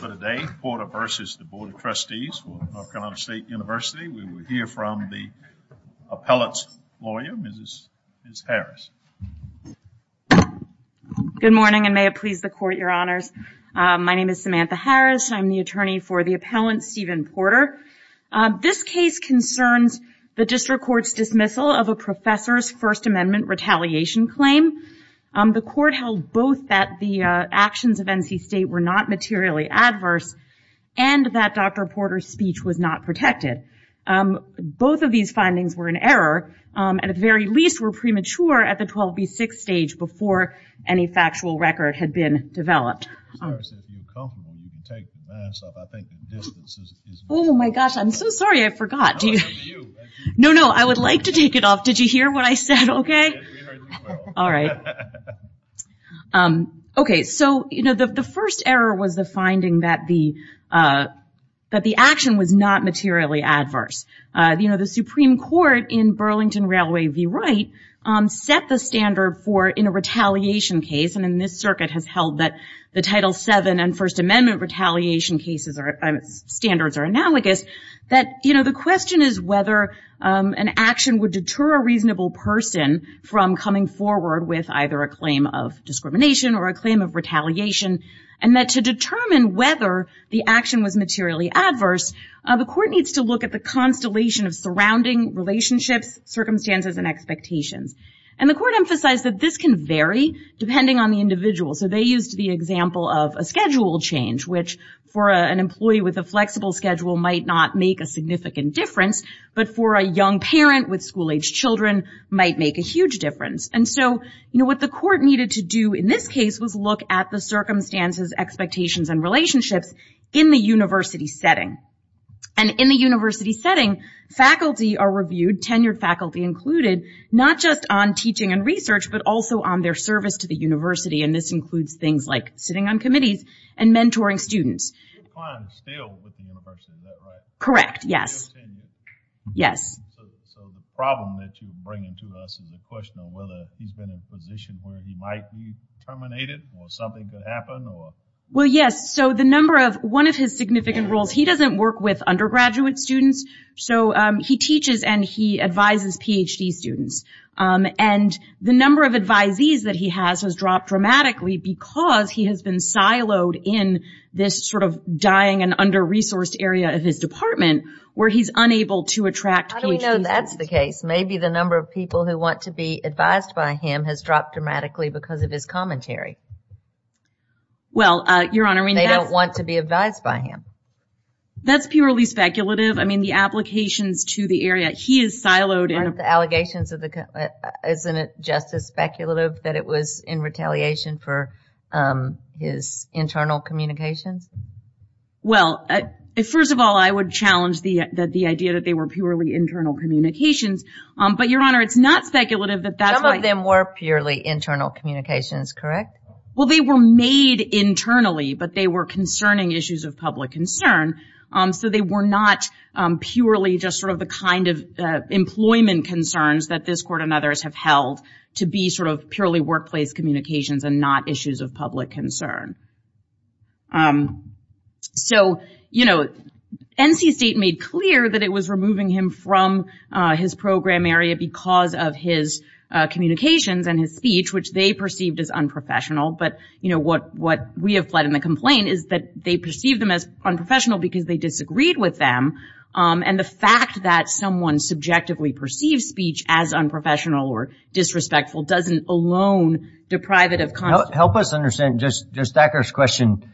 Good morning and may it please the court, your honors. My name is Samantha Harris. I'm the attorney for the appellant, Stephen Porter. This case concerns the district court's dismissal of a professor's First Amendment retaliation claim. The court held both that the actions of N. C. State were not materially adverse and that Dr. Porter's speech was not protected. Both of these findings were in error and at the very least were premature at the 12B6 stage before any factual record had been developed. Oh my gosh, I'm so sorry I forgot. No, no, I would like to take it off. Did you hear what I said, okay? Okay, so the first error was the finding that the action was not materially adverse. The Supreme Court in Burlington Railway v. Wright set the standard for in a retaliation case and in this circuit has held that the Title VII and First Amendment retaliation standards are analogous, that the question is whether an action would deter a reasonable person from coming forward with either a claim of discrimination or a claim of retaliation and that to determine whether the action was materially adverse, the court needs to look at the constellation of surrounding relationships, circumstances, and expectations. And the court emphasized that this can vary depending on the individual. So they used the example of a schedule change, which for an employee with a flexible schedule might not make a significant difference, but for a young parent with school-aged children might make a huge difference. And so, you know, what the court needed to do in this case was look at the circumstances, expectations, and relationships in the university setting. And in the university setting, faculty are reviewed, tenured faculty included, not just on teaching and research, but also on their service to the university and this includes things like sitting on committees and mentoring students. Correct. Yes. Yes. So the problem that you're bringing to us is a question of whether he's been in a position where he might be terminated or something could happen or... Well, yes. So the number of, one of his significant roles, he doesn't work with undergraduate students, so he teaches and he advises PhD students. And the number of advisees that he has has dropped dramatically because he has been siloed in this sort of dying and under-resourced area of his department where he's unable to attract PhD students. How do we know that's the case? Maybe the number of people who want to be advised by him has dropped dramatically because of his commentary. Well, Your Honor, I mean that's... They don't want to be advised by him. That's purely speculative. I mean, the applications to the area, he is siloed in... Isn't it just as speculative that it was in retaliation for his internal communications? Well, first of all, I would challenge the idea that they were purely internal communications. But, Your Honor, it's not speculative that that's why... Some of them were purely internal communications, correct? Well, they were made internally, but they were concerning issues of public concern. So they were not purely just sort of the kind of employment concerns that this court and others have held to be sort of purely workplace communications and not issues of public concern. So, you know, NC State made clear that it was removing him from his program area because of his communications and his speech, which they perceived as unprofessional. But, you know, what we have fled in the complaint is that they perceive them as unprofessional because they disagreed with them. And the fact that someone subjectively perceives speech as unprofessional or disrespectful doesn't alone deprive it of... Help us understand just Thacker's question.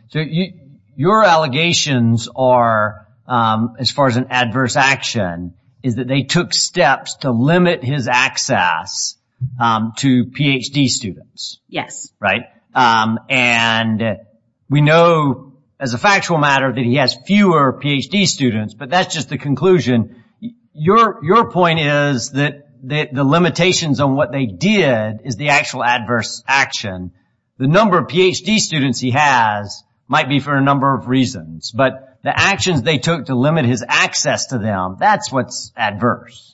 Your allegations are, as far as an adverse action, is that they took steps to limit his access to Ph.D. students. Yes. Right? And we know, as a factual matter, that he has fewer Ph.D. students. But that's just the conclusion. Your point is that the limitations on what they did is the actual adverse action. The number of Ph.D. students he has might be for a number of reasons. But the actions they took to limit his access to them, that's what's adverse.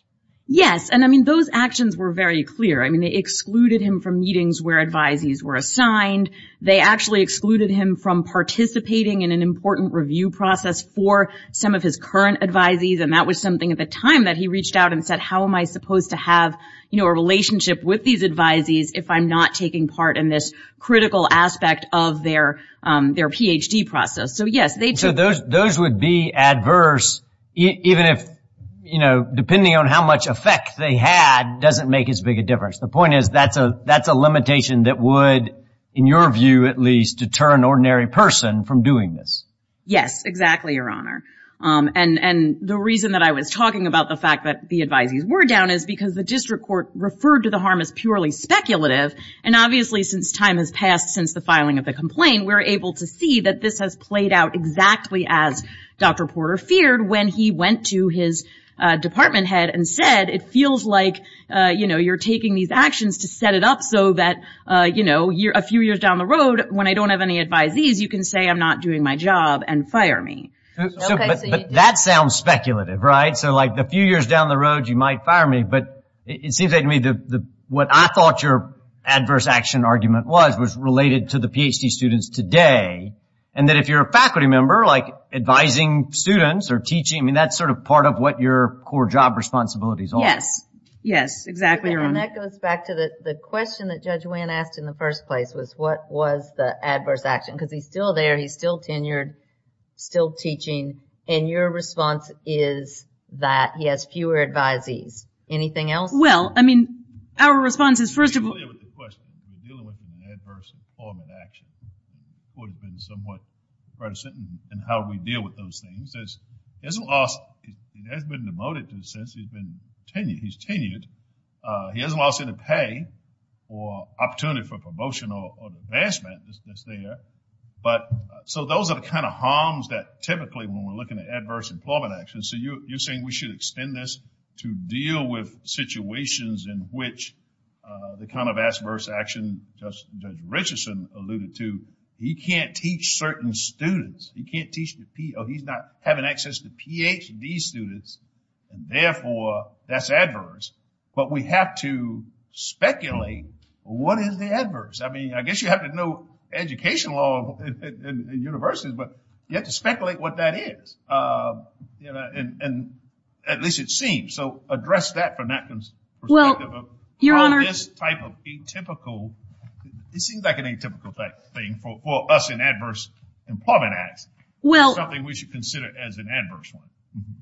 Yes. And, I mean, those actions were very clear. I mean, they excluded him from meetings where advisees were assigned. They actually excluded him from participating in an important review process for some of his current advisees. And that was something at the time that he reached out and said, how am I supposed to have, you know, a relationship with these advisees if I'm not taking part in this critical aspect of their Ph.D. process? So, yes, they took... Yes. The point is that's a limitation that would, in your view at least, deter an ordinary person from doing this. Yes, exactly, Your Honor. And the reason that I was talking about the fact that the advisees were down is because the district court referred to the harm as purely speculative. And, obviously, since time has passed since the filing of the complaint, we're able to see that this has played out exactly as Dr. Porter feared when he went to his department head and said, it feels like, you know, you're taking these actions to set it up so that, you know, a few years down the road, when I don't have any advisees, you can say I'm not doing my job and fire me. But that sounds speculative, right? So, like, a few years down the road, you might fire me. But it seems to me that what I thought your adverse action argument was was related to the Ph.D. students today, and that if you're a faculty member, like, advising students or teaching, I mean, that's sort of part of what your core job responsibilities are. Yes. Yes, exactly, Your Honor. And that goes back to the question that Judge Wann asked in the first place was what was the adverse action? Because he's still there. He's still tenured, still teaching. And your response is that he has fewer advisees. Anything else? Well, I mean, our response is, first of all – To be clear with the question, we're dealing with an adverse informant action. It would have been somewhat predestined in how we deal with those things. He hasn't lost – he hasn't been demoted since he's been tenured. He's tenured. He hasn't lost any pay or opportunity for promotion or advancement that's there. But – so those are the kind of harms that typically when we're looking at adverse informant actions. So you're saying we should extend this to deal with situations in which the kind of adverse action Judge Richardson alluded to. He can't teach certain students. He can't teach – he's not having access to Ph.D. students. And, therefore, that's adverse. But we have to speculate what is the adverse. I mean, I guess you have to know educational law in universities, but you have to speculate what that is. And at least it seems. So address that from that perspective. Well, Your Honor – It seems like an atypical thing for us in adverse informant acts. It's something we should consider as an adverse one.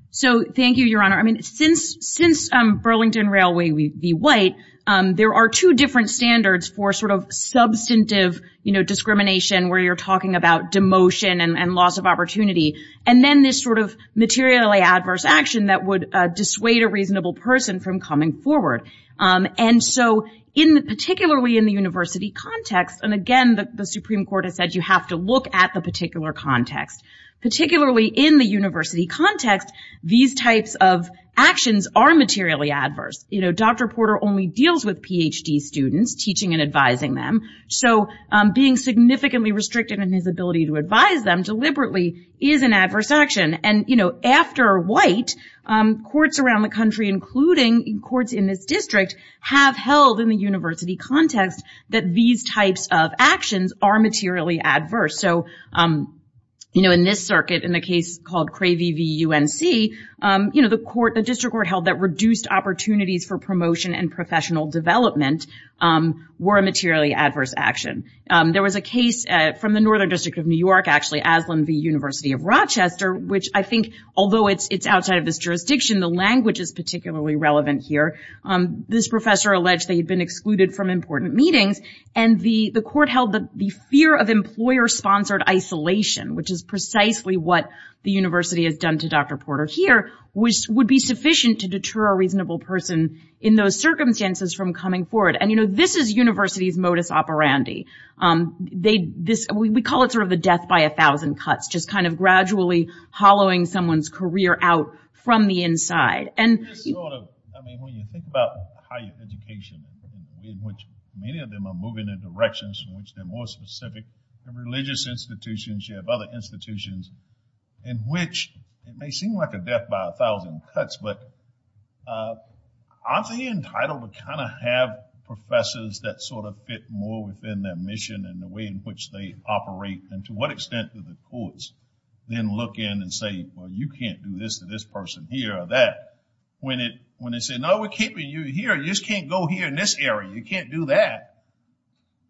So, thank you, Your Honor. I mean, since Burlington Railway v. White, there are two different standards for sort of substantive discrimination where you're talking about demotion and loss of opportunity, and then this sort of materially adverse action that would dissuade a reasonable person from coming forward. And so, particularly in the university context – and, again, the Supreme Court has said you have to look at the particular context – particularly in the university context, these types of actions are materially adverse. You know, Dr. Porter only deals with Ph.D. students, teaching and advising them. So being significantly restricted in his ability to advise them deliberately is an adverse action. And, you know, after White, courts around the country, including courts in this district, have held in the university context that these types of actions are materially adverse. So, you know, in this circuit, in the case called Cravey v. UNC, you know, the district court held that reduced opportunities for promotion and professional development were a materially adverse action. There was a case from the Northern District of New York, actually, Aslan v. University of Rochester, which I think, although it's outside of this jurisdiction, the language is particularly relevant here. This professor alleged they had been excluded from important meetings, and the court held that the fear of employer-sponsored isolation, which is precisely what the university has done to Dr. Porter here, would be sufficient to deter a reasonable person in those circumstances from coming forward. And, you know, this is university's modus operandi. We call it sort of the death by a thousand cuts, just kind of gradually hollowing someone's career out from the inside. And when you think about higher education, in which many of them are moving in directions in which they're more specific to religious institutions, you have other institutions in which it may seem like a death by a thousand cuts, but aren't they entitled to kind of have professors that sort of fit more within their mission and the way in which they operate, and to what extent do the courts then look in and say, well, you can't do this to this person here or that. When they say, no, we're keeping you here. You just can't go here in this area. You can't do that.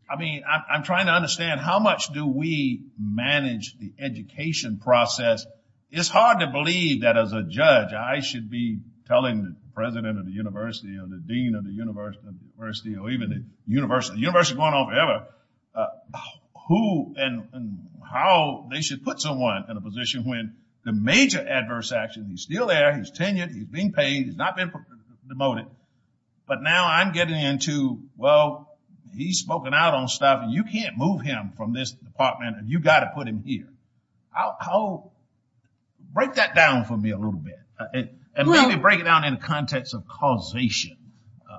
I mean, I'm trying to understand how much do we manage the education process. It's hard to believe that as a judge I should be telling the president of the university or the dean of the university or even the university, the university going on forever, who and how they should put someone in a position when the major adverse action, he's still there, he's tenured, he's being paid, he's not been demoted, but now I'm getting into, well, he's spoken out on stuff and you can't move him from this department and you've got to put him here. How, break that down for me a little bit. And maybe break it down in the context of causation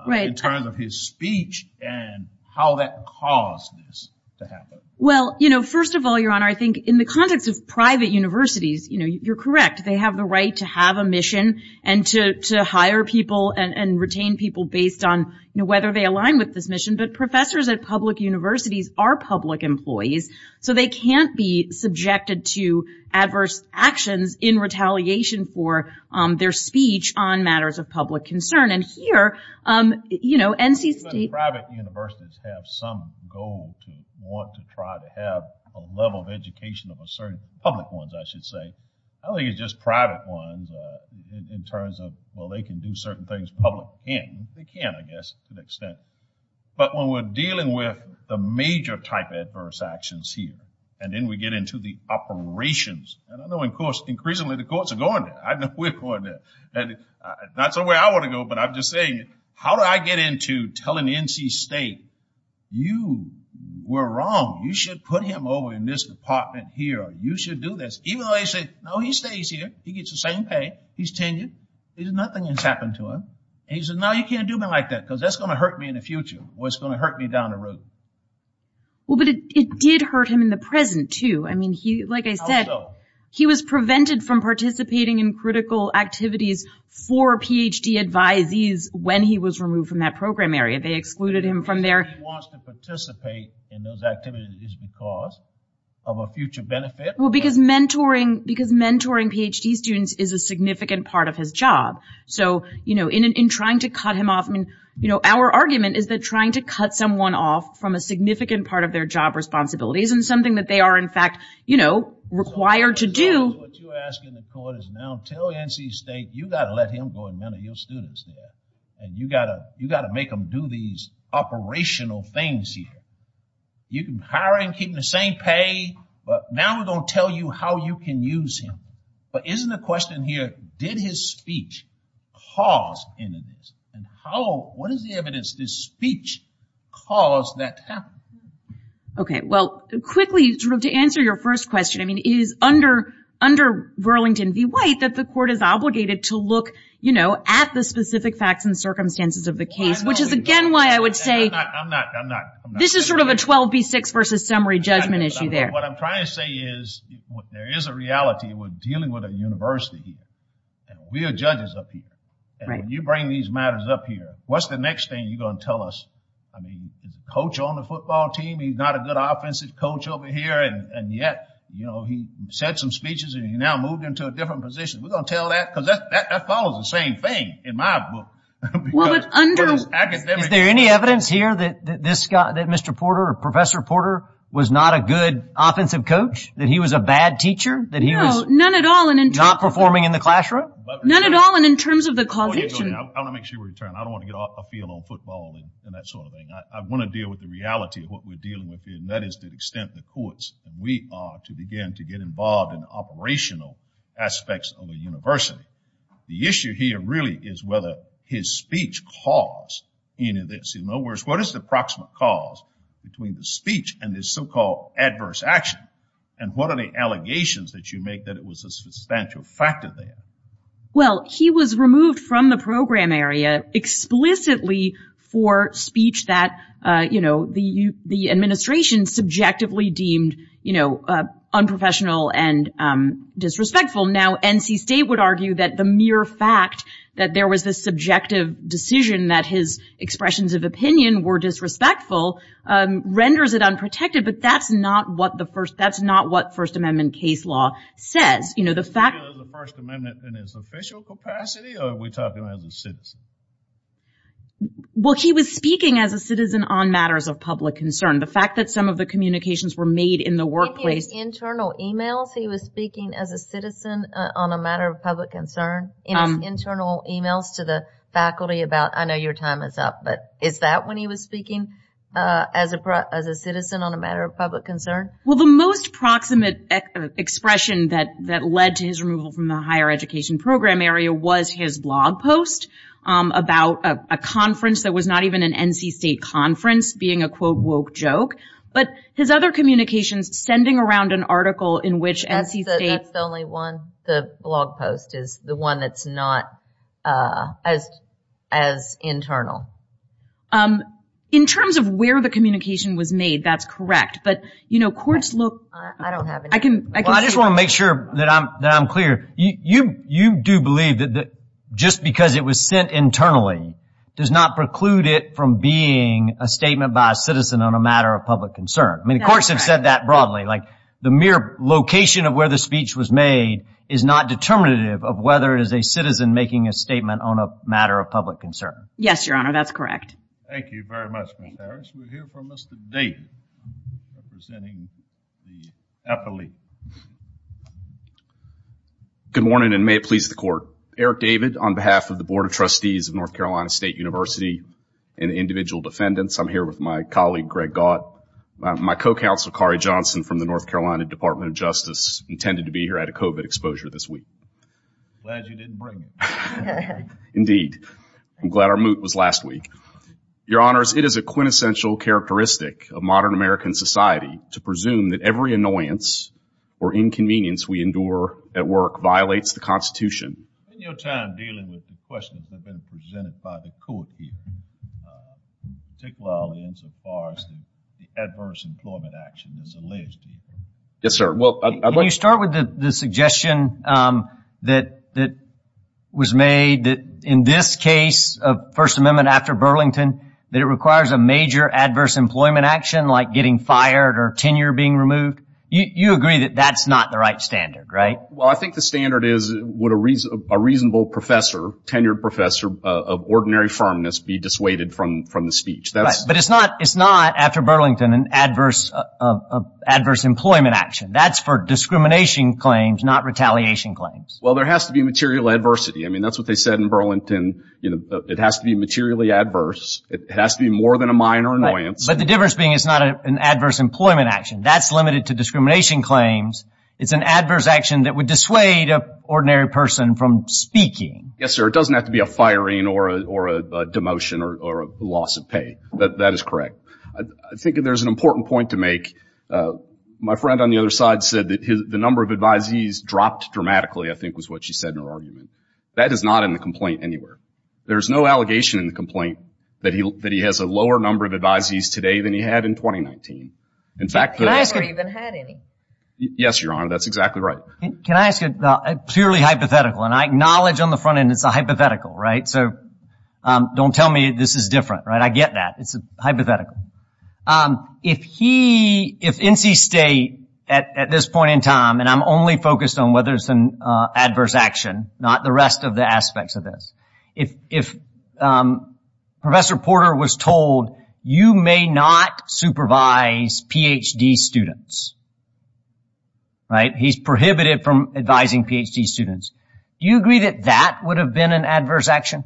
in terms of his speech and how that caused this to happen. Well, you know, first of all, Your Honor, I think in the context of private universities, you know, you're correct, they have the right to have a mission and to hire people and retain people based on whether they align with this mission. But professors at public universities are public employees, so they can't be subjected to adverse actions in retaliation for their speech on matters of public concern. And here, you know, NC State. Private universities have some goal to want to try to have a level of education of a certain, public ones I should say. I don't think it's just private ones in terms of, well, they can do certain things, public can't, they can't I guess to an extent. But when we're dealing with the major type of adverse actions here, and then we get into the operations. And I know, of course, increasingly the courts are going there. I know we're going there. And that's the way I want to go, but I'm just saying, how do I get into telling NC State, you were wrong, you should put him over in this department here, you should do this. Even though they say, no, he stays here, he gets the same pay, he's tenured, nothing has happened to him. And he says, no, you can't do me like that, because that's going to hurt me in the future, or it's going to hurt me down the road. Well, but it did hurt him in the present, too. I mean, like I said, he was prevented from participating in critical activities for Ph.D. advisees when he was removed from that program area. They excluded him from there. He wants to participate in those activities because of a future benefit. Well, because mentoring Ph.D. students is a significant part of his job. So, you know, in trying to cut him off, I mean, you know, our argument is that trying to cut someone off from a significant part of their job responsibilities isn't something that they are, in fact, you know, required to do. What you're asking the court is now tell NC State, you've got to let him go and mentor your students here. And you've got to make them do these operational things here. You can hire him, keep him the same pay, but now we're going to tell you how you can use him. But isn't the question here, did his speech cause any of this? And how, what is the evidence this speech caused that to happen? Okay, well, quickly, sort of to answer your first question, I mean, it is under Burlington v. White that the court is obligated to look, you know, at the specific facts and circumstances of the case, which is, again, why I would say. I'm not, I'm not, I'm not. This is sort of a 12 v. 6 versus summary judgment issue there. And what I'm trying to say is there is a reality. We're dealing with a university here. And we are judges up here. And when you bring these matters up here, what's the next thing you're going to tell us? I mean, is the coach on the football team? He's not a good offensive coach over here. And yet, you know, he said some speeches and he now moved into a different position. We're going to tell that because that follows the same thing in my book. Is there any evidence here that this guy, that Mr. Porter, Professor Porter was not a good offensive coach, that he was a bad teacher, that he was not performing in the classroom? None at all, and in terms of the causation. I want to make sure we return. I don't want to get off the field on football and that sort of thing. I want to deal with the reality of what we're dealing with here, and that is the extent the courts, and we are to begin to get involved in operational aspects of a university. The issue here really is whether his speech caused any of this. In other words, what is the approximate cause between the speech and this so-called adverse action? And what are the allegations that you make that it was a substantial factor there? Well, he was removed from the program area explicitly for speech that, you know, the administration subjectively deemed, you know, unprofessional and disrespectful. Now, NC State would argue that the mere fact that there was this subjective decision that his expressions of opinion were disrespectful renders it unprotected, but that's not what the First Amendment case law says. You know, the fact that the First Amendment in its official capacity, or are we talking about as a citizen? Well, he was speaking as a citizen on matters of public concern. The fact that some of the communications were made in the workplace. Internal e-mails he was speaking as a citizen on a matter of public concern? Internal e-mails to the faculty about, I know your time is up, but is that when he was speaking as a citizen on a matter of public concern? Well, the most proximate expression that led to his removal from the higher education program area was his blog post about a conference that was not even an NC State conference being a, quote, That's the only one. The blog post is the one that's not as internal. In terms of where the communication was made, that's correct. But, you know, courts look. I don't have any. I just want to make sure that I'm clear. You do believe that just because it was sent internally does not preclude it from being a statement by a citizen on a matter of public concern. I mean, the courts have said that broadly. Like, the mere location of where the speech was made is not determinative of whether it is a citizen making a statement on a matter of public concern. Yes, Your Honor, that's correct. Thank you very much, Mr. Harris. We'll hear from Mr. Dayton representing the affiliate. Good morning, and may it please the Court. Eric David on behalf of the Board of Trustees of North Carolina State University and individual defendants. I'm here with my colleague, Greg Gott. My co-counsel, Kari Johnson, from the North Carolina Department of Justice, intended to be here at a COVID exposure this week. Glad you didn't bring it. Indeed. I'm glad our moot was last week. Your Honors, it is a quintessential characteristic of modern American society to presume that every annoyance or inconvenience we endure at work violates the Constitution. In your time dealing with the questions that have been presented by the court here, particularly insofar as the adverse employment action that's alleged to you. Yes, sir. Can you start with the suggestion that was made that in this case of First Amendment after Burlington, that it requires a major adverse employment action like getting fired or tenure being removed? You agree that that's not the right standard, right? Well, I think the standard is would a reasonable professor, tenured professor of ordinary firmness be dissuaded from the speech. But it's not after Burlington an adverse employment action. That's for discrimination claims, not retaliation claims. Well, there has to be material adversity. I mean, that's what they said in Burlington. It has to be materially adverse. It has to be more than a minor annoyance. But the difference being it's not an adverse employment action. That's limited to discrimination claims. It's an adverse action that would dissuade an ordinary person from speaking. Yes, sir. It doesn't have to be a firing or a demotion or a loss of pay. That is correct. I think there's an important point to make. My friend on the other side said that the number of advisees dropped dramatically, I think was what she said in her argument. That is not in the complaint anywhere. There's no allegation in the complaint that he has a lower number of advisees today than he had in 2019. He never even had any. Yes, Your Honor, that's exactly right. Can I ask you a purely hypothetical, and I acknowledge on the front end it's a hypothetical, right? So don't tell me this is different, right? I get that. It's a hypothetical. If he, if NC State at this point in time, and I'm only focused on whether it's an adverse action, not the rest of the aspects of this, if Professor Porter was told, you may not supervise Ph.D. students, right? He's prohibited from advising Ph.D. students. Do you agree that that would have been an adverse action?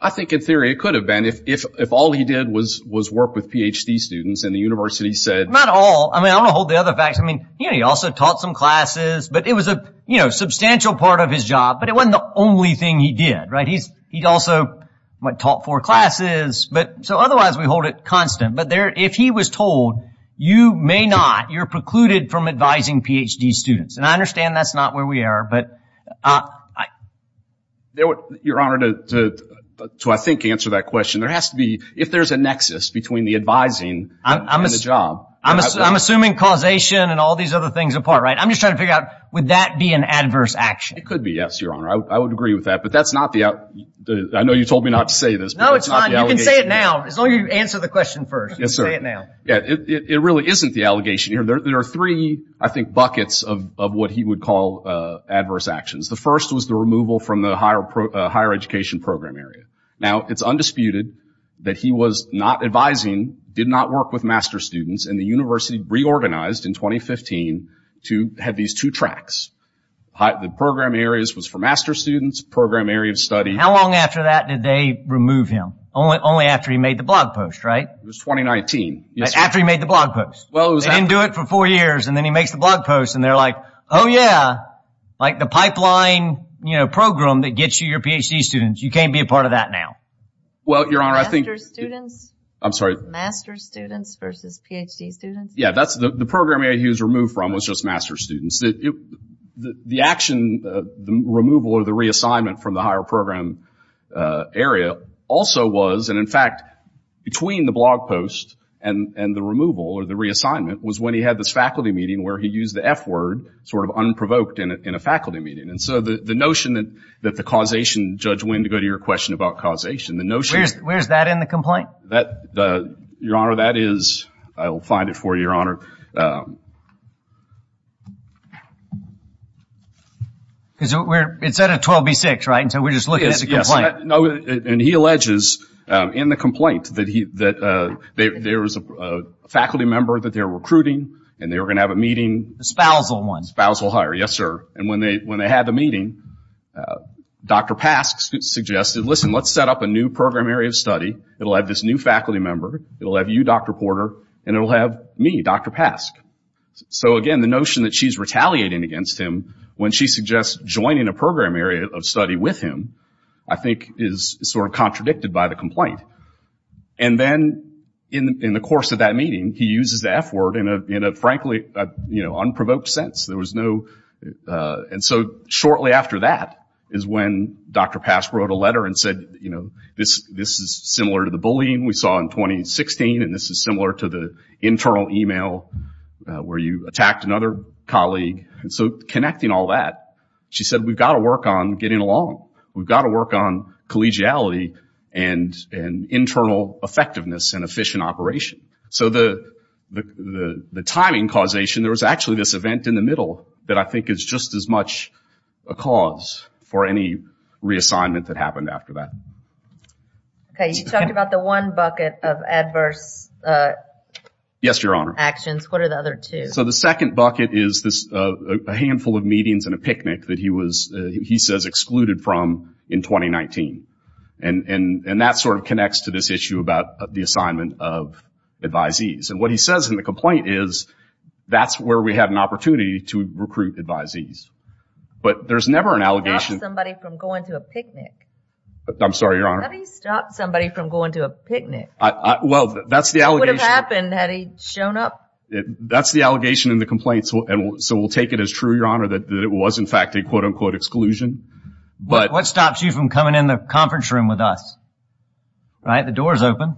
I think in theory it could have been if all he did was work with Ph.D. students and the university said. Not all. I mean, I'm going to hold the other facts. I mean, he also taught some classes, but it was a substantial part of his job, but it wasn't the only thing he did, right? He also taught four classes. So otherwise we hold it constant. But if he was told, you may not, you're precluded from advising Ph.D. students. And I understand that's not where we are. Your Honor, to I think answer that question, there has to be, if there's a nexus between the advising and the job. I'm assuming causation and all these other things apart, right? I'm just trying to figure out, would that be an adverse action? It could be, yes, Your Honor. I would agree with that. But that's not the, I know you told me not to say this. No, it's fine. You can say it now. As long as you answer the question first. Yes, sir. Say it now. It really isn't the allegation. There are three, I think, buckets of what he would call adverse actions. The first was the removal from the higher education program area. Now, it's undisputed that he was not advising, did not work with Master's students, and the university reorganized in 2015 to have these two tracks. The program areas was for Master's students, program area of study. How long after that did they remove him? Only after he made the blog post, right? It was 2019. After he made the blog post. They didn't do it for four years, and then he makes the blog post, and they're like, oh, yeah, like the pipeline program that gets you your Ph.D. students. You can't be a part of that now. Well, Your Honor, I think— Master's students? I'm sorry. Master's students versus Ph.D. students? Yeah, the program area he was removed from was just Master's students. The action, the removal or the reassignment from the higher program area also was, and in fact between the blog post and the removal or the reassignment, was when he had this faculty meeting where he used the F word sort of unprovoked in a faculty meeting. And so the notion that the causation, Judge Winn, to go to your question about causation, the notion— Where's that in the complaint? Your Honor, that is—I will find it for you, Your Honor. It's at a 12B6, right, and so we're just looking at the complaint. Yes, and he alleges in the complaint that there was a faculty member that they were recruiting and they were going to have a meeting. The spousal one. The spousal hire, yes, sir. And when they had the meeting, Dr. Pask suggested, listen, let's set up a new program area of study. It will have this new faculty member. It will have you, Dr. Porter, and it will have me, Dr. Pask. So, again, the notion that she's retaliating against him when she suggests joining a program area of study with him, I think, is sort of contradicted by the complaint. And then in the course of that meeting, he uses the F word in a, frankly, unprovoked sense. There was no—and so shortly after that is when Dr. Pask wrote a letter and said, this is similar to the bullying we saw in 2016, and this is similar to the internal email where you attacked another colleague. And so connecting all that, she said, we've got to work on getting along. We've got to work on collegiality and internal effectiveness and efficient operation. So the timing causation, there was actually this event in the middle that I think is just as much a cause for any reassignment that happened after that. Okay. You talked about the one bucket of adverse— Yes, Your Honor. —actions. What are the other two? So the second bucket is this handful of meetings and a picnic that he was, he says, excluded from in 2019. And that sort of connects to this issue about the assignment of advisees. And what he says in the complaint is that's where we had an opportunity to recruit advisees. But there's never an allegation— How did he stop somebody from going to a picnic? I'm sorry, Your Honor. How did he stop somebody from going to a picnic? Well, that's the allegation— What would have happened had he shown up? That's the allegation in the complaint. So we'll take it as true, Your Honor, that it was, in fact, a quote-unquote exclusion. What stops you from coming in the conference room with us? Right? The door's open.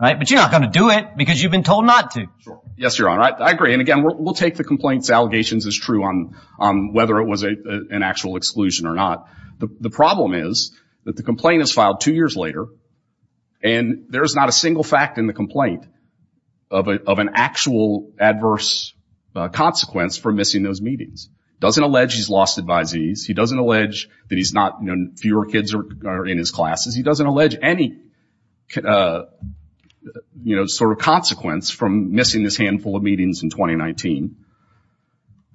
But you're not going to do it because you've been told not to. Yes, Your Honor. I agree. And, again, we'll take the complaint's allegations as true on whether it was an actual exclusion or not. The problem is that the complaint is filed two years later, and there is not a single fact in the complaint of an actual adverse consequence for missing those meetings. He doesn't allege he's lost advisees. He doesn't allege that he's not—fewer kids are in his classes. He doesn't allege any sort of consequence from missing this handful of meetings in 2019.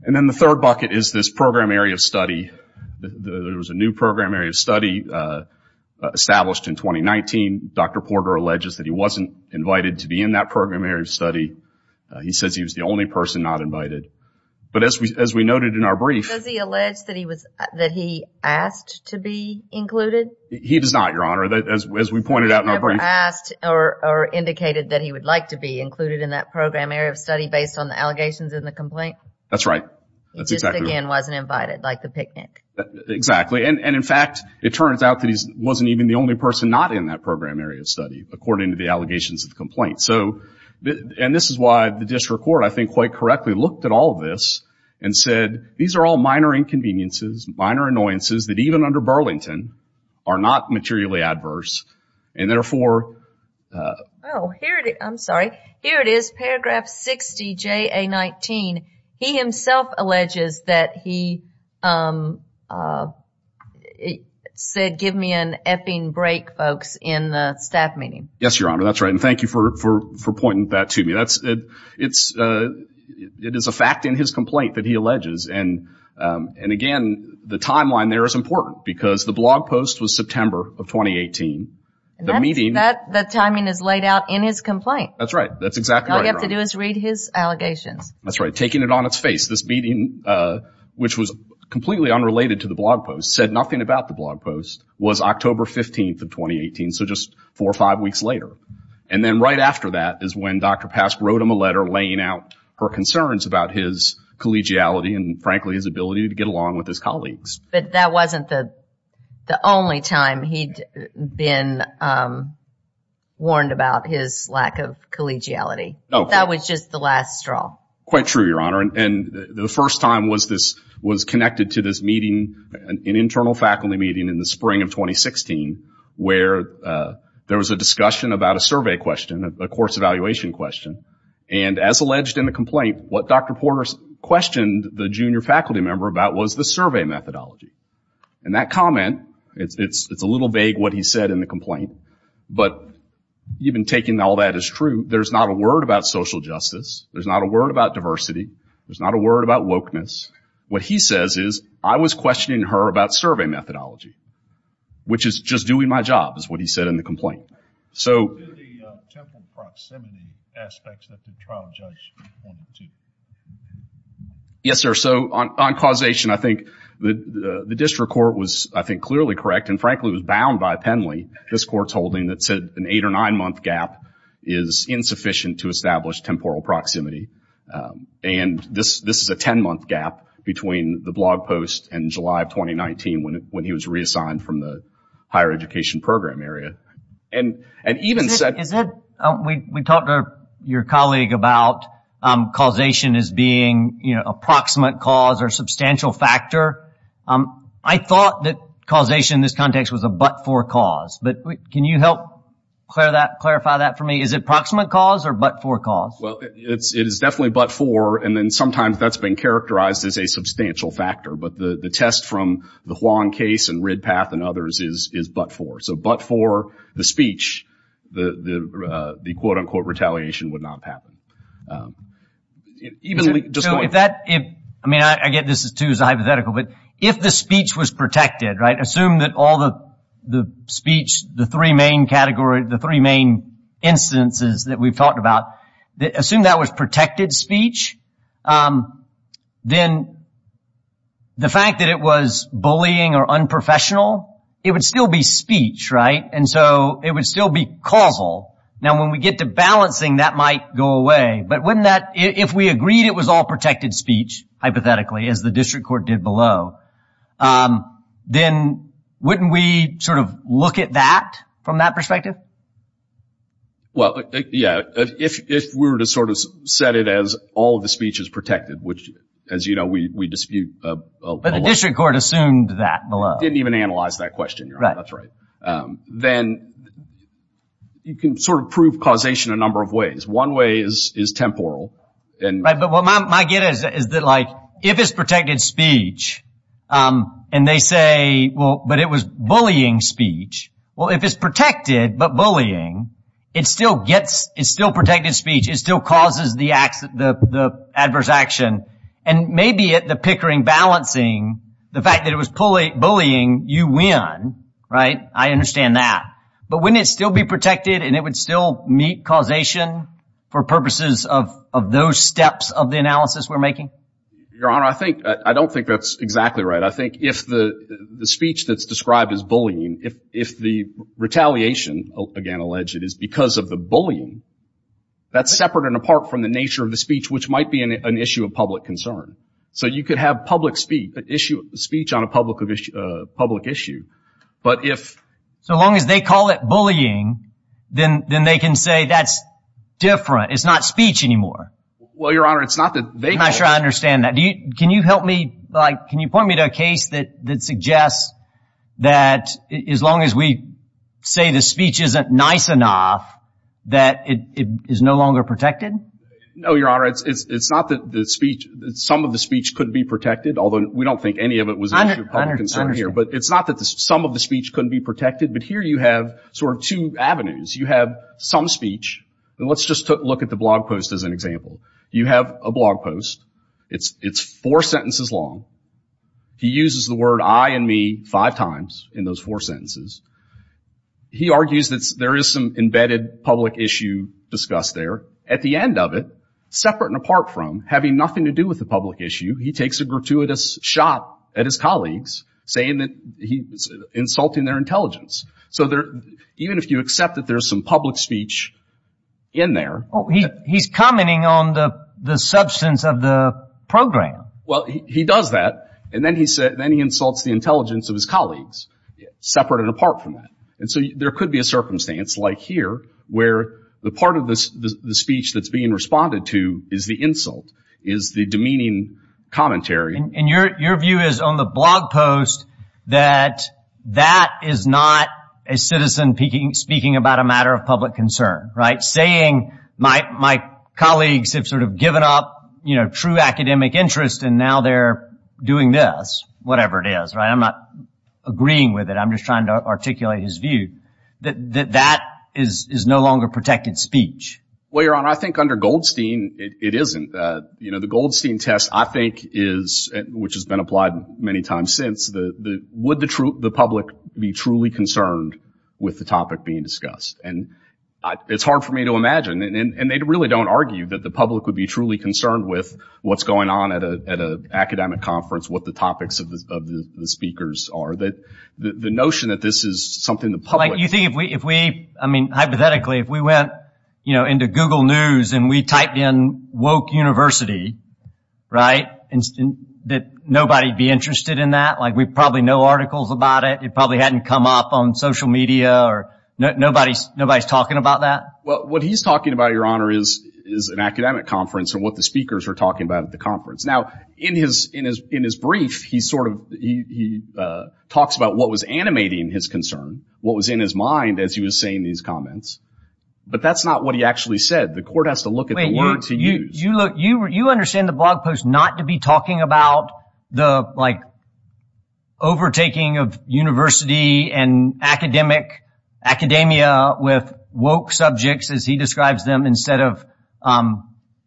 And then the third bucket is this program area of study. There was a new program area of study established in 2019. Dr. Porter alleges that he wasn't invited to be in that program area of study. He says he was the only person not invited. But as we noted in our brief— Does he allege that he asked to be included? He does not, Your Honor. As we pointed out in our brief— He never asked or indicated that he would like to be included in that program area of study based on the allegations in the complaint? That's right. He just, again, wasn't invited, like the picnic. Exactly. And, in fact, it turns out that he wasn't even the only person not in that program area of study according to the allegations of the complaint. And this is why the district court, I think, quite correctly looked at all of this and said, these are all minor inconveniences, minor annoyances that, even under Burlington, are not materially adverse, and therefore— Oh, here it is. I'm sorry. Here it is, paragraph 60JA19. He himself alleges that he said, give me an effing break, folks, in the staff meeting. Yes, Your Honor, that's right, and thank you for pointing that to me. It is a fact in his complaint that he alleges, and, again, the timeline there is important because the blog post was September of 2018. The meeting— That timing is laid out in his complaint. That's right. That's exactly right, Your Honor. All you have to do is read his allegations. That's right. Taking it on its face, this meeting, which was completely unrelated to the blog post, said nothing about the blog post, was October 15th of 2018, so just four or five weeks later. And then right after that is when Dr. Pask wrote him a letter laying out her concerns about his collegiality and, frankly, his ability to get along with his colleagues. But that wasn't the only time he'd been warned about his lack of collegiality. That was just the last straw. Quite true, Your Honor, and the first time was connected to this meeting, an internal faculty meeting in the spring of 2016, where there was a discussion about a survey question, a course evaluation question. And as alleged in the complaint, what Dr. Porter questioned the junior faculty member about was the survey methodology. And that comment—it's a little vague what he said in the complaint, but even taking all that as true, there's not a word about social justice, there's not a word about diversity, there's not a word about wokeness. What he says is, I was questioning her about survey methodology, which is just doing my job, is what he said in the complaint. So— What about the temporal proximity aspects that the trial judge pointed to? Yes, sir. So on causation, I think the district court was, I think, clearly correct and, frankly, was bound by a penalty this court's holding that said an eight- or nine-month gap is insufficient to establish temporal proximity. And this is a ten-month gap between the blog post in July of 2019 when he was reassigned from the higher education program area. And even— Is it—we talked to your colleague about causation as being, you know, a proximate cause or substantial factor. I thought that causation in this context was a but-for cause, but can you help clarify that for me? Is it proximate cause or but-for cause? Well, it is definitely but-for, and then sometimes that's been characterized as a substantial factor. But the test from the Huang case and Ridpath and others is but-for. So but-for the speech, the quote-unquote retaliation would not happen. Even if— So if that—I mean, I get this, too, is a hypothetical, but if the speech was protected, right, assume that all the speech, the three main categories, the three main instances that we've talked about, assume that was protected speech, then the fact that it was bullying or unprofessional, it would still be speech, right? And so it would still be causal. Now, when we get to balancing, that might go away. But wouldn't that—if we agreed it was all protected speech, hypothetically, as the district court did below, then wouldn't we sort of look at that from that perspective? Well, yeah, if we were to sort of set it as all of the speech is protected, which, as you know, we dispute— But the district court assumed that below. Didn't even analyze that question. Right. That's right. Then you can sort of prove causation a number of ways. One way is temporal. Right, but what I get is that, like, if it's protected speech and they say, well, but it was bullying speech, well, if it's protected but bullying, it still gets—it's still protected speech. It still causes the adverse action. And maybe at the pickering balancing, the fact that it was bullying, you win. Right? I understand that. But wouldn't it still be protected and it would still meet causation for purposes of those steps of the analysis we're making? Your Honor, I don't think that's exactly right. I think if the speech that's described as bullying, if the retaliation, again, alleged, is because of the bullying, that's separate and apart from the nature of the speech, which might be an issue of public concern. So you could have public speech on a public issue, but if— So long as they call it bullying, then they can say that's different. It's not speech anymore. Well, Your Honor, it's not that they call it— I'm not sure I understand that. Can you help me, like, can you point me to a case that suggests that as long as we say the speech isn't nice enough, that it is no longer protected? No, Your Honor, it's not that the speech—some of the speech could be protected, although we don't think any of it was an issue of public concern here. I understand. But it's not that some of the speech couldn't be protected. But here you have sort of two avenues. You have some speech, and let's just look at the blog post as an example. You have a blog post. It's four sentences long. He uses the word I and me five times in those four sentences. He argues that there is some embedded public issue discussed there. At the end of it, separate and apart from having nothing to do with the public issue, he takes a gratuitous shot at his colleagues, saying that he's insulting their intelligence. So even if you accept that there's some public speech in there— He's commenting on the substance of the program. Well, he does that, and then he insults the intelligence of his colleagues, separate and apart from that. And so there could be a circumstance like here where the part of the speech that's being responded to is the insult, is the demeaning commentary. And your view is on the blog post that that is not a citizen speaking about a matter of public concern, right? And my colleagues have sort of given up, you know, true academic interest, and now they're doing this, whatever it is, right? I'm not agreeing with it. I'm just trying to articulate his view that that is no longer protected speech. Well, Your Honor, I think under Goldstein it isn't. You know, the Goldstein test, I think, which has been applied many times since, would the public be truly concerned with the topic being discussed? And it's hard for me to imagine, and they really don't argue that the public would be truly concerned with what's going on at an academic conference, what the topics of the speakers are. The notion that this is something the public— Like, you think if we, I mean, hypothetically, if we went, you know, into Google News and we typed in Woke University, right, that nobody would be interested in that? Like, we probably know articles about it. It probably hadn't come up on social media, or nobody's talking about that? Well, what he's talking about, Your Honor, is an academic conference and what the speakers are talking about at the conference. Now, in his brief, he sort of—he talks about what was animating his concern, what was in his mind as he was saying these comments. But that's not what he actually said. The court has to look at the words he used. You look—you understand the blog post not to be talking about the, like, overtaking of university and academic—academia with woke subjects, as he describes them, instead of,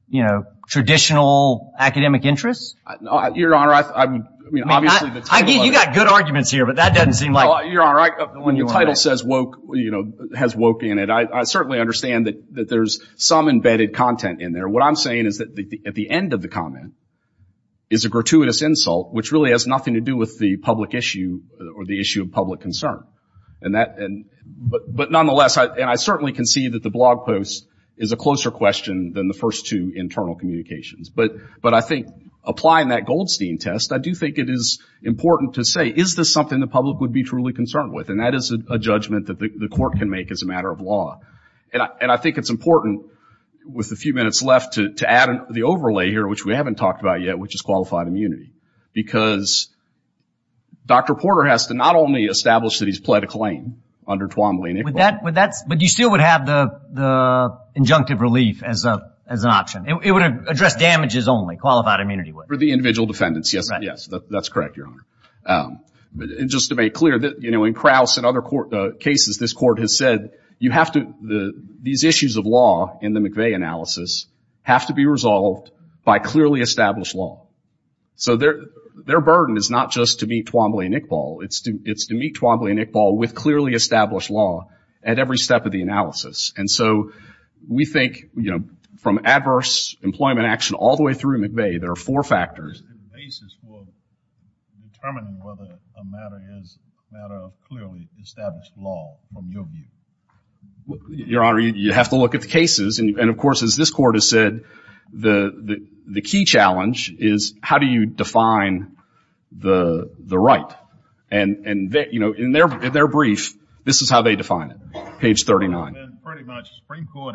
you know, traditional academic interests? Your Honor, I mean, obviously the title— I mean, you've got good arguments here, but that doesn't seem like— Well, Your Honor, when your title says woke, you know, has woke in it, I certainly understand that there's some embedded content in there. What I'm saying is that at the end of the comment is a gratuitous insult, which really has nothing to do with the public issue or the issue of public concern. But nonetheless, and I certainly can see that the blog post is a closer question than the first two internal communications. But I think applying that Goldstein test, I do think it is important to say, is this something the public would be truly concerned with? And that is a judgment that the court can make as a matter of law. And I think it's important, with a few minutes left, to add the overlay here, which we haven't talked about yet, which is qualified immunity. Because Dr. Porter has to not only establish that he's pled a claim under Twombly— But you still would have the injunctive relief as an option. It would address damages only, qualified immunity would. For the individual defendants, yes. Yes, that's correct, Your Honor. Just to make clear, in Krauss and other cases, this court has said, these issues of law in the McVeigh analysis have to be resolved by clearly established law. So their burden is not just to meet Twombly and Iqbal, it's to meet Twombly and Iqbal with clearly established law at every step of the analysis. And so we think from adverse employment action all the way through McVeigh, there are four factors. It's the basis for determining whether a matter is a matter of clearly established law, from your view. Your Honor, you have to look at the cases. And, of course, as this court has said, the key challenge is how do you define the right? And in their brief, this is how they define it, page 39. And pretty much the Supreme Court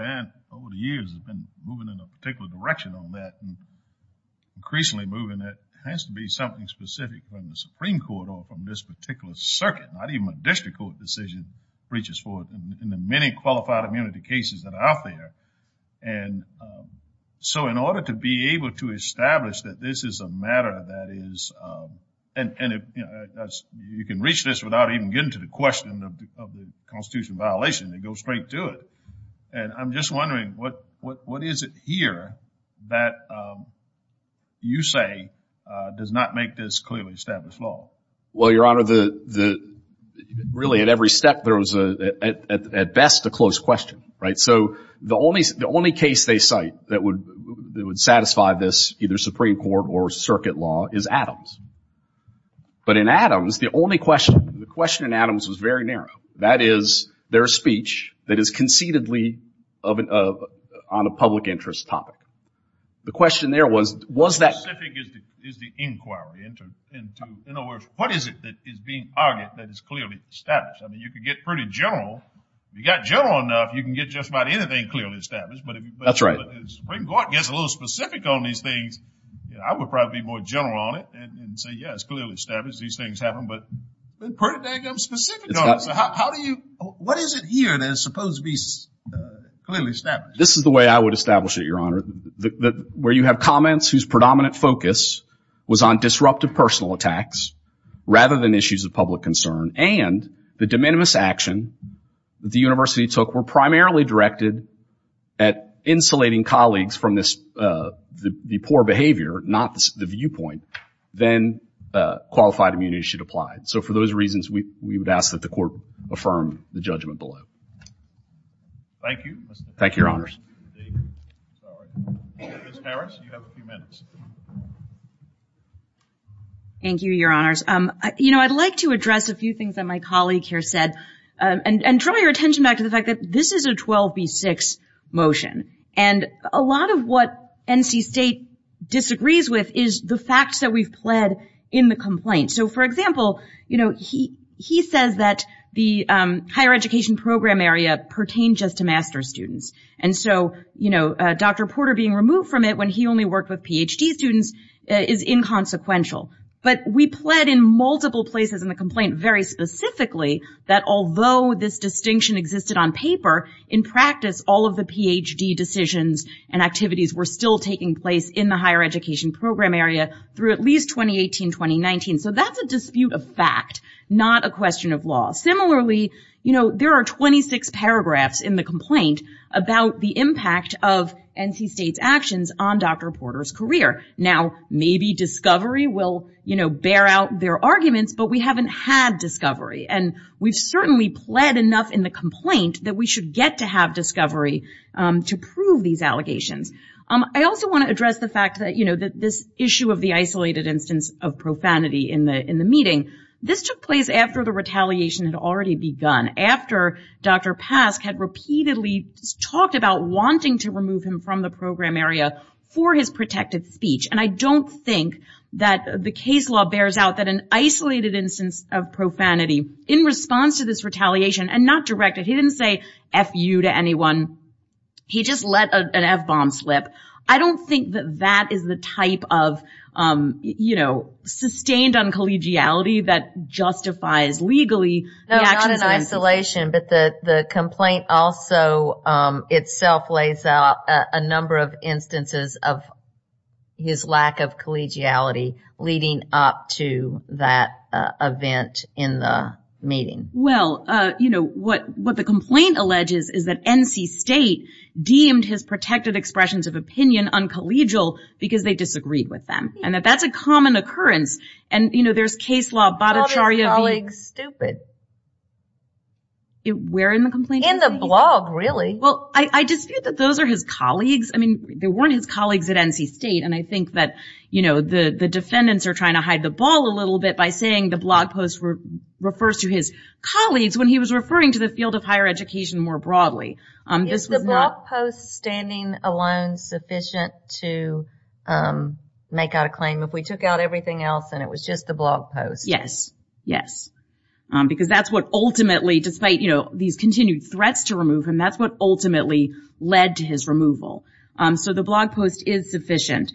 over the years has been moving in a particular direction on that. Increasingly moving it has to be something specific from the Supreme Court or from this particular circuit. Not even a district court decision reaches forth in the many qualified immunity cases that are out there. And so in order to be able to establish that this is a matter that is, and you can reach this without even getting to the question of the constitutional violation, you go straight to it. And I'm just wondering what is it here that you say does not make this clearly established law? Well, Your Honor, really at every step there was at best a closed question, right? So the only case they cite that would satisfy this, either Supreme Court or circuit law, is Adams. But in Adams, the only question, the question in Adams was very narrow. That is their speech that is concededly on a public interest topic. The question there was, was that- How specific is the inquiry? In other words, what is it that is being argued that is clearly established? I mean, you could get pretty general. If you got general enough, you can get just about anything clearly established. That's right. But if the Supreme Court gets a little specific on these things, I would probably be more general on it and say, yes, clearly established, these things happen. But pretty damn specific. How do you- what is it here that is supposed to be clearly established? This is the way I would establish it, Your Honor. Where you have comments whose predominant focus was on disruptive personal attacks rather than issues of public concern and the de minimis action that the university took were primarily directed at insulating colleagues from the poor behavior, not the viewpoint, then qualified immunity should apply. So for those reasons, we would ask that the court affirm the judgment below. Thank you. Thank you, Your Honors. Ms. Harris, you have a few minutes. Thank you, Your Honors. You know, I'd like to address a few things that my colleague here said and draw your attention back to the fact that this is a 12B6 motion. And a lot of what NC State disagrees with is the facts that we've pled in the complaint. So, for example, you know, he says that the higher education program area pertains just to master's students. And so, you know, Dr. Porter being removed from it when he only worked with Ph.D. students is inconsequential. But we pled in multiple places in the complaint very specifically that although this distinction existed on paper, in practice all of the Ph.D. decisions and activities were still taking place in the higher education program area through at least 2018, 2019. So that's a dispute of fact, not a question of law. Similarly, you know, there are 26 paragraphs in the complaint about the impact of NC State's actions on Dr. Porter's career. Now, maybe discovery will, you know, bear out their arguments, but we haven't had discovery. And we've certainly pled enough in the complaint that we should get to have discovery to prove these allegations. I also want to address the fact that, you know, this issue of the isolated instance of profanity in the meeting, this took place after the retaliation had already begun, after Dr. Pasch had repeatedly talked about wanting to remove him from the program area for his protected speech. And I don't think that the case law bears out that an isolated instance of profanity in response to this retaliation and not directed, he didn't say F you to anyone, he just let an F bomb slip. I don't think that that is the type of, you know, sustained uncollegiality that justifies legally the actions of NC State. But the complaint also itself lays out a number of instances of his lack of collegiality leading up to that event in the meeting. Well, you know, what the complaint alleges is that NC State deemed his protected expressions of opinion uncollegial because they disagreed with them. And that that's a common occurrence. And, you know, there's case law. Called his colleagues stupid. Where in the complaint? In the blog, really. Well, I dispute that those are his colleagues. I mean, they weren't his colleagues at NC State. And I think that, you know, the defendants are trying to hide the ball a little bit by saying the blog post refers to his colleagues when he was referring to the field of higher education more broadly. Is the blog post standing alone sufficient to make out a claim if we took out everything else and it was just the blog post? Yes. Yes. Because that's what ultimately, despite, you know, these continued threats to remove him, that's what ultimately led to his removal. So the blog post is sufficient.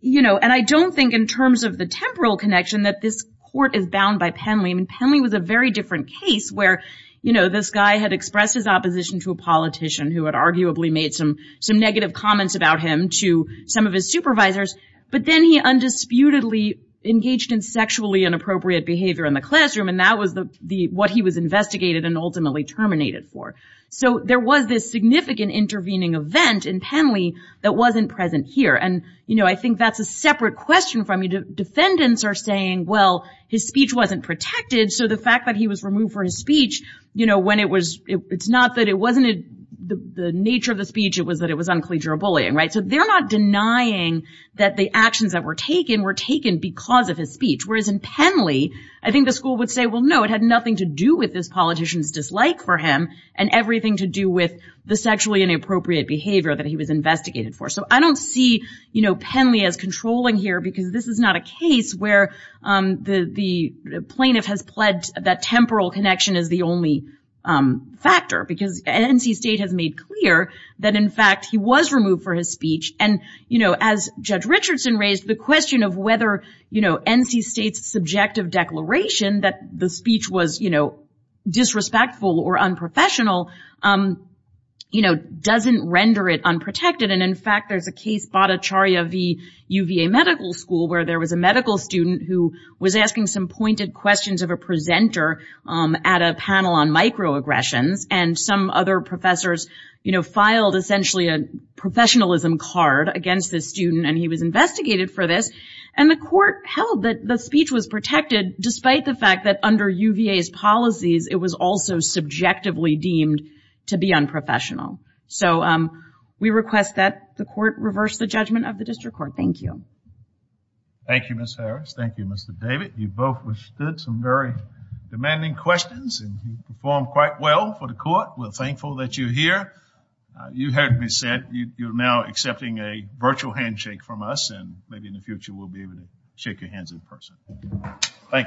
You know, and I don't think in terms of the temporal connection that this court is bound by penalty. I mean, Penley was a very different case where, you know, this guy had expressed his opposition to a politician who had arguably made some negative comments about him to some of his supervisors. But then he undisputedly engaged in sexually inappropriate behavior in the classroom. And that was what he was investigated and ultimately terminated for. So there was this significant intervening event in Penley that wasn't present here. And, you know, I think that's a separate question. I mean, defendants are saying, well, his speech wasn't protected. So the fact that he was removed for his speech, you know, when it was, it's not that it wasn't the nature of the speech. It was that it was uncollegial bullying. Right. So they're not denying that the actions that were taken were taken because of his speech. Whereas in Penley, I think the school would say, well, no, it had nothing to do with this politician's dislike for him and everything to do with the sexually inappropriate behavior that he was investigated for. So I don't see, you know, Penley as controlling here because this is not a case where the plaintiff has pledged that temporal connection is the only factor. Because NC State has made clear that, in fact, he was removed for his speech. And, you know, as Judge Richardson raised, the question of whether, you know, NC State's subjective declaration that the speech was, you know, disrespectful or unprofessional, you know, doesn't render it unprotected. And, in fact, there's a case, Bhattacharya v. UVA Medical School, where there was a medical student who was asking some pointed questions of a presenter at a panel on microaggressions. And some other professors, you know, filed essentially a professionalism card against this student. And he was investigated for this. And the court held that the speech was protected, despite the fact that under UVA's policies, it was also subjectively deemed to be unprofessional. So we request that the court reverse the judgment of the district court. Thank you. Thank you, Ms. Harris. Thank you, Mr. David. You both withstood some very demanding questions and you performed quite well for the court. We're thankful that you're here. You heard me said you're now accepting a virtual handshake from us and maybe in the future we'll be able to shake your hands in person. Thank you.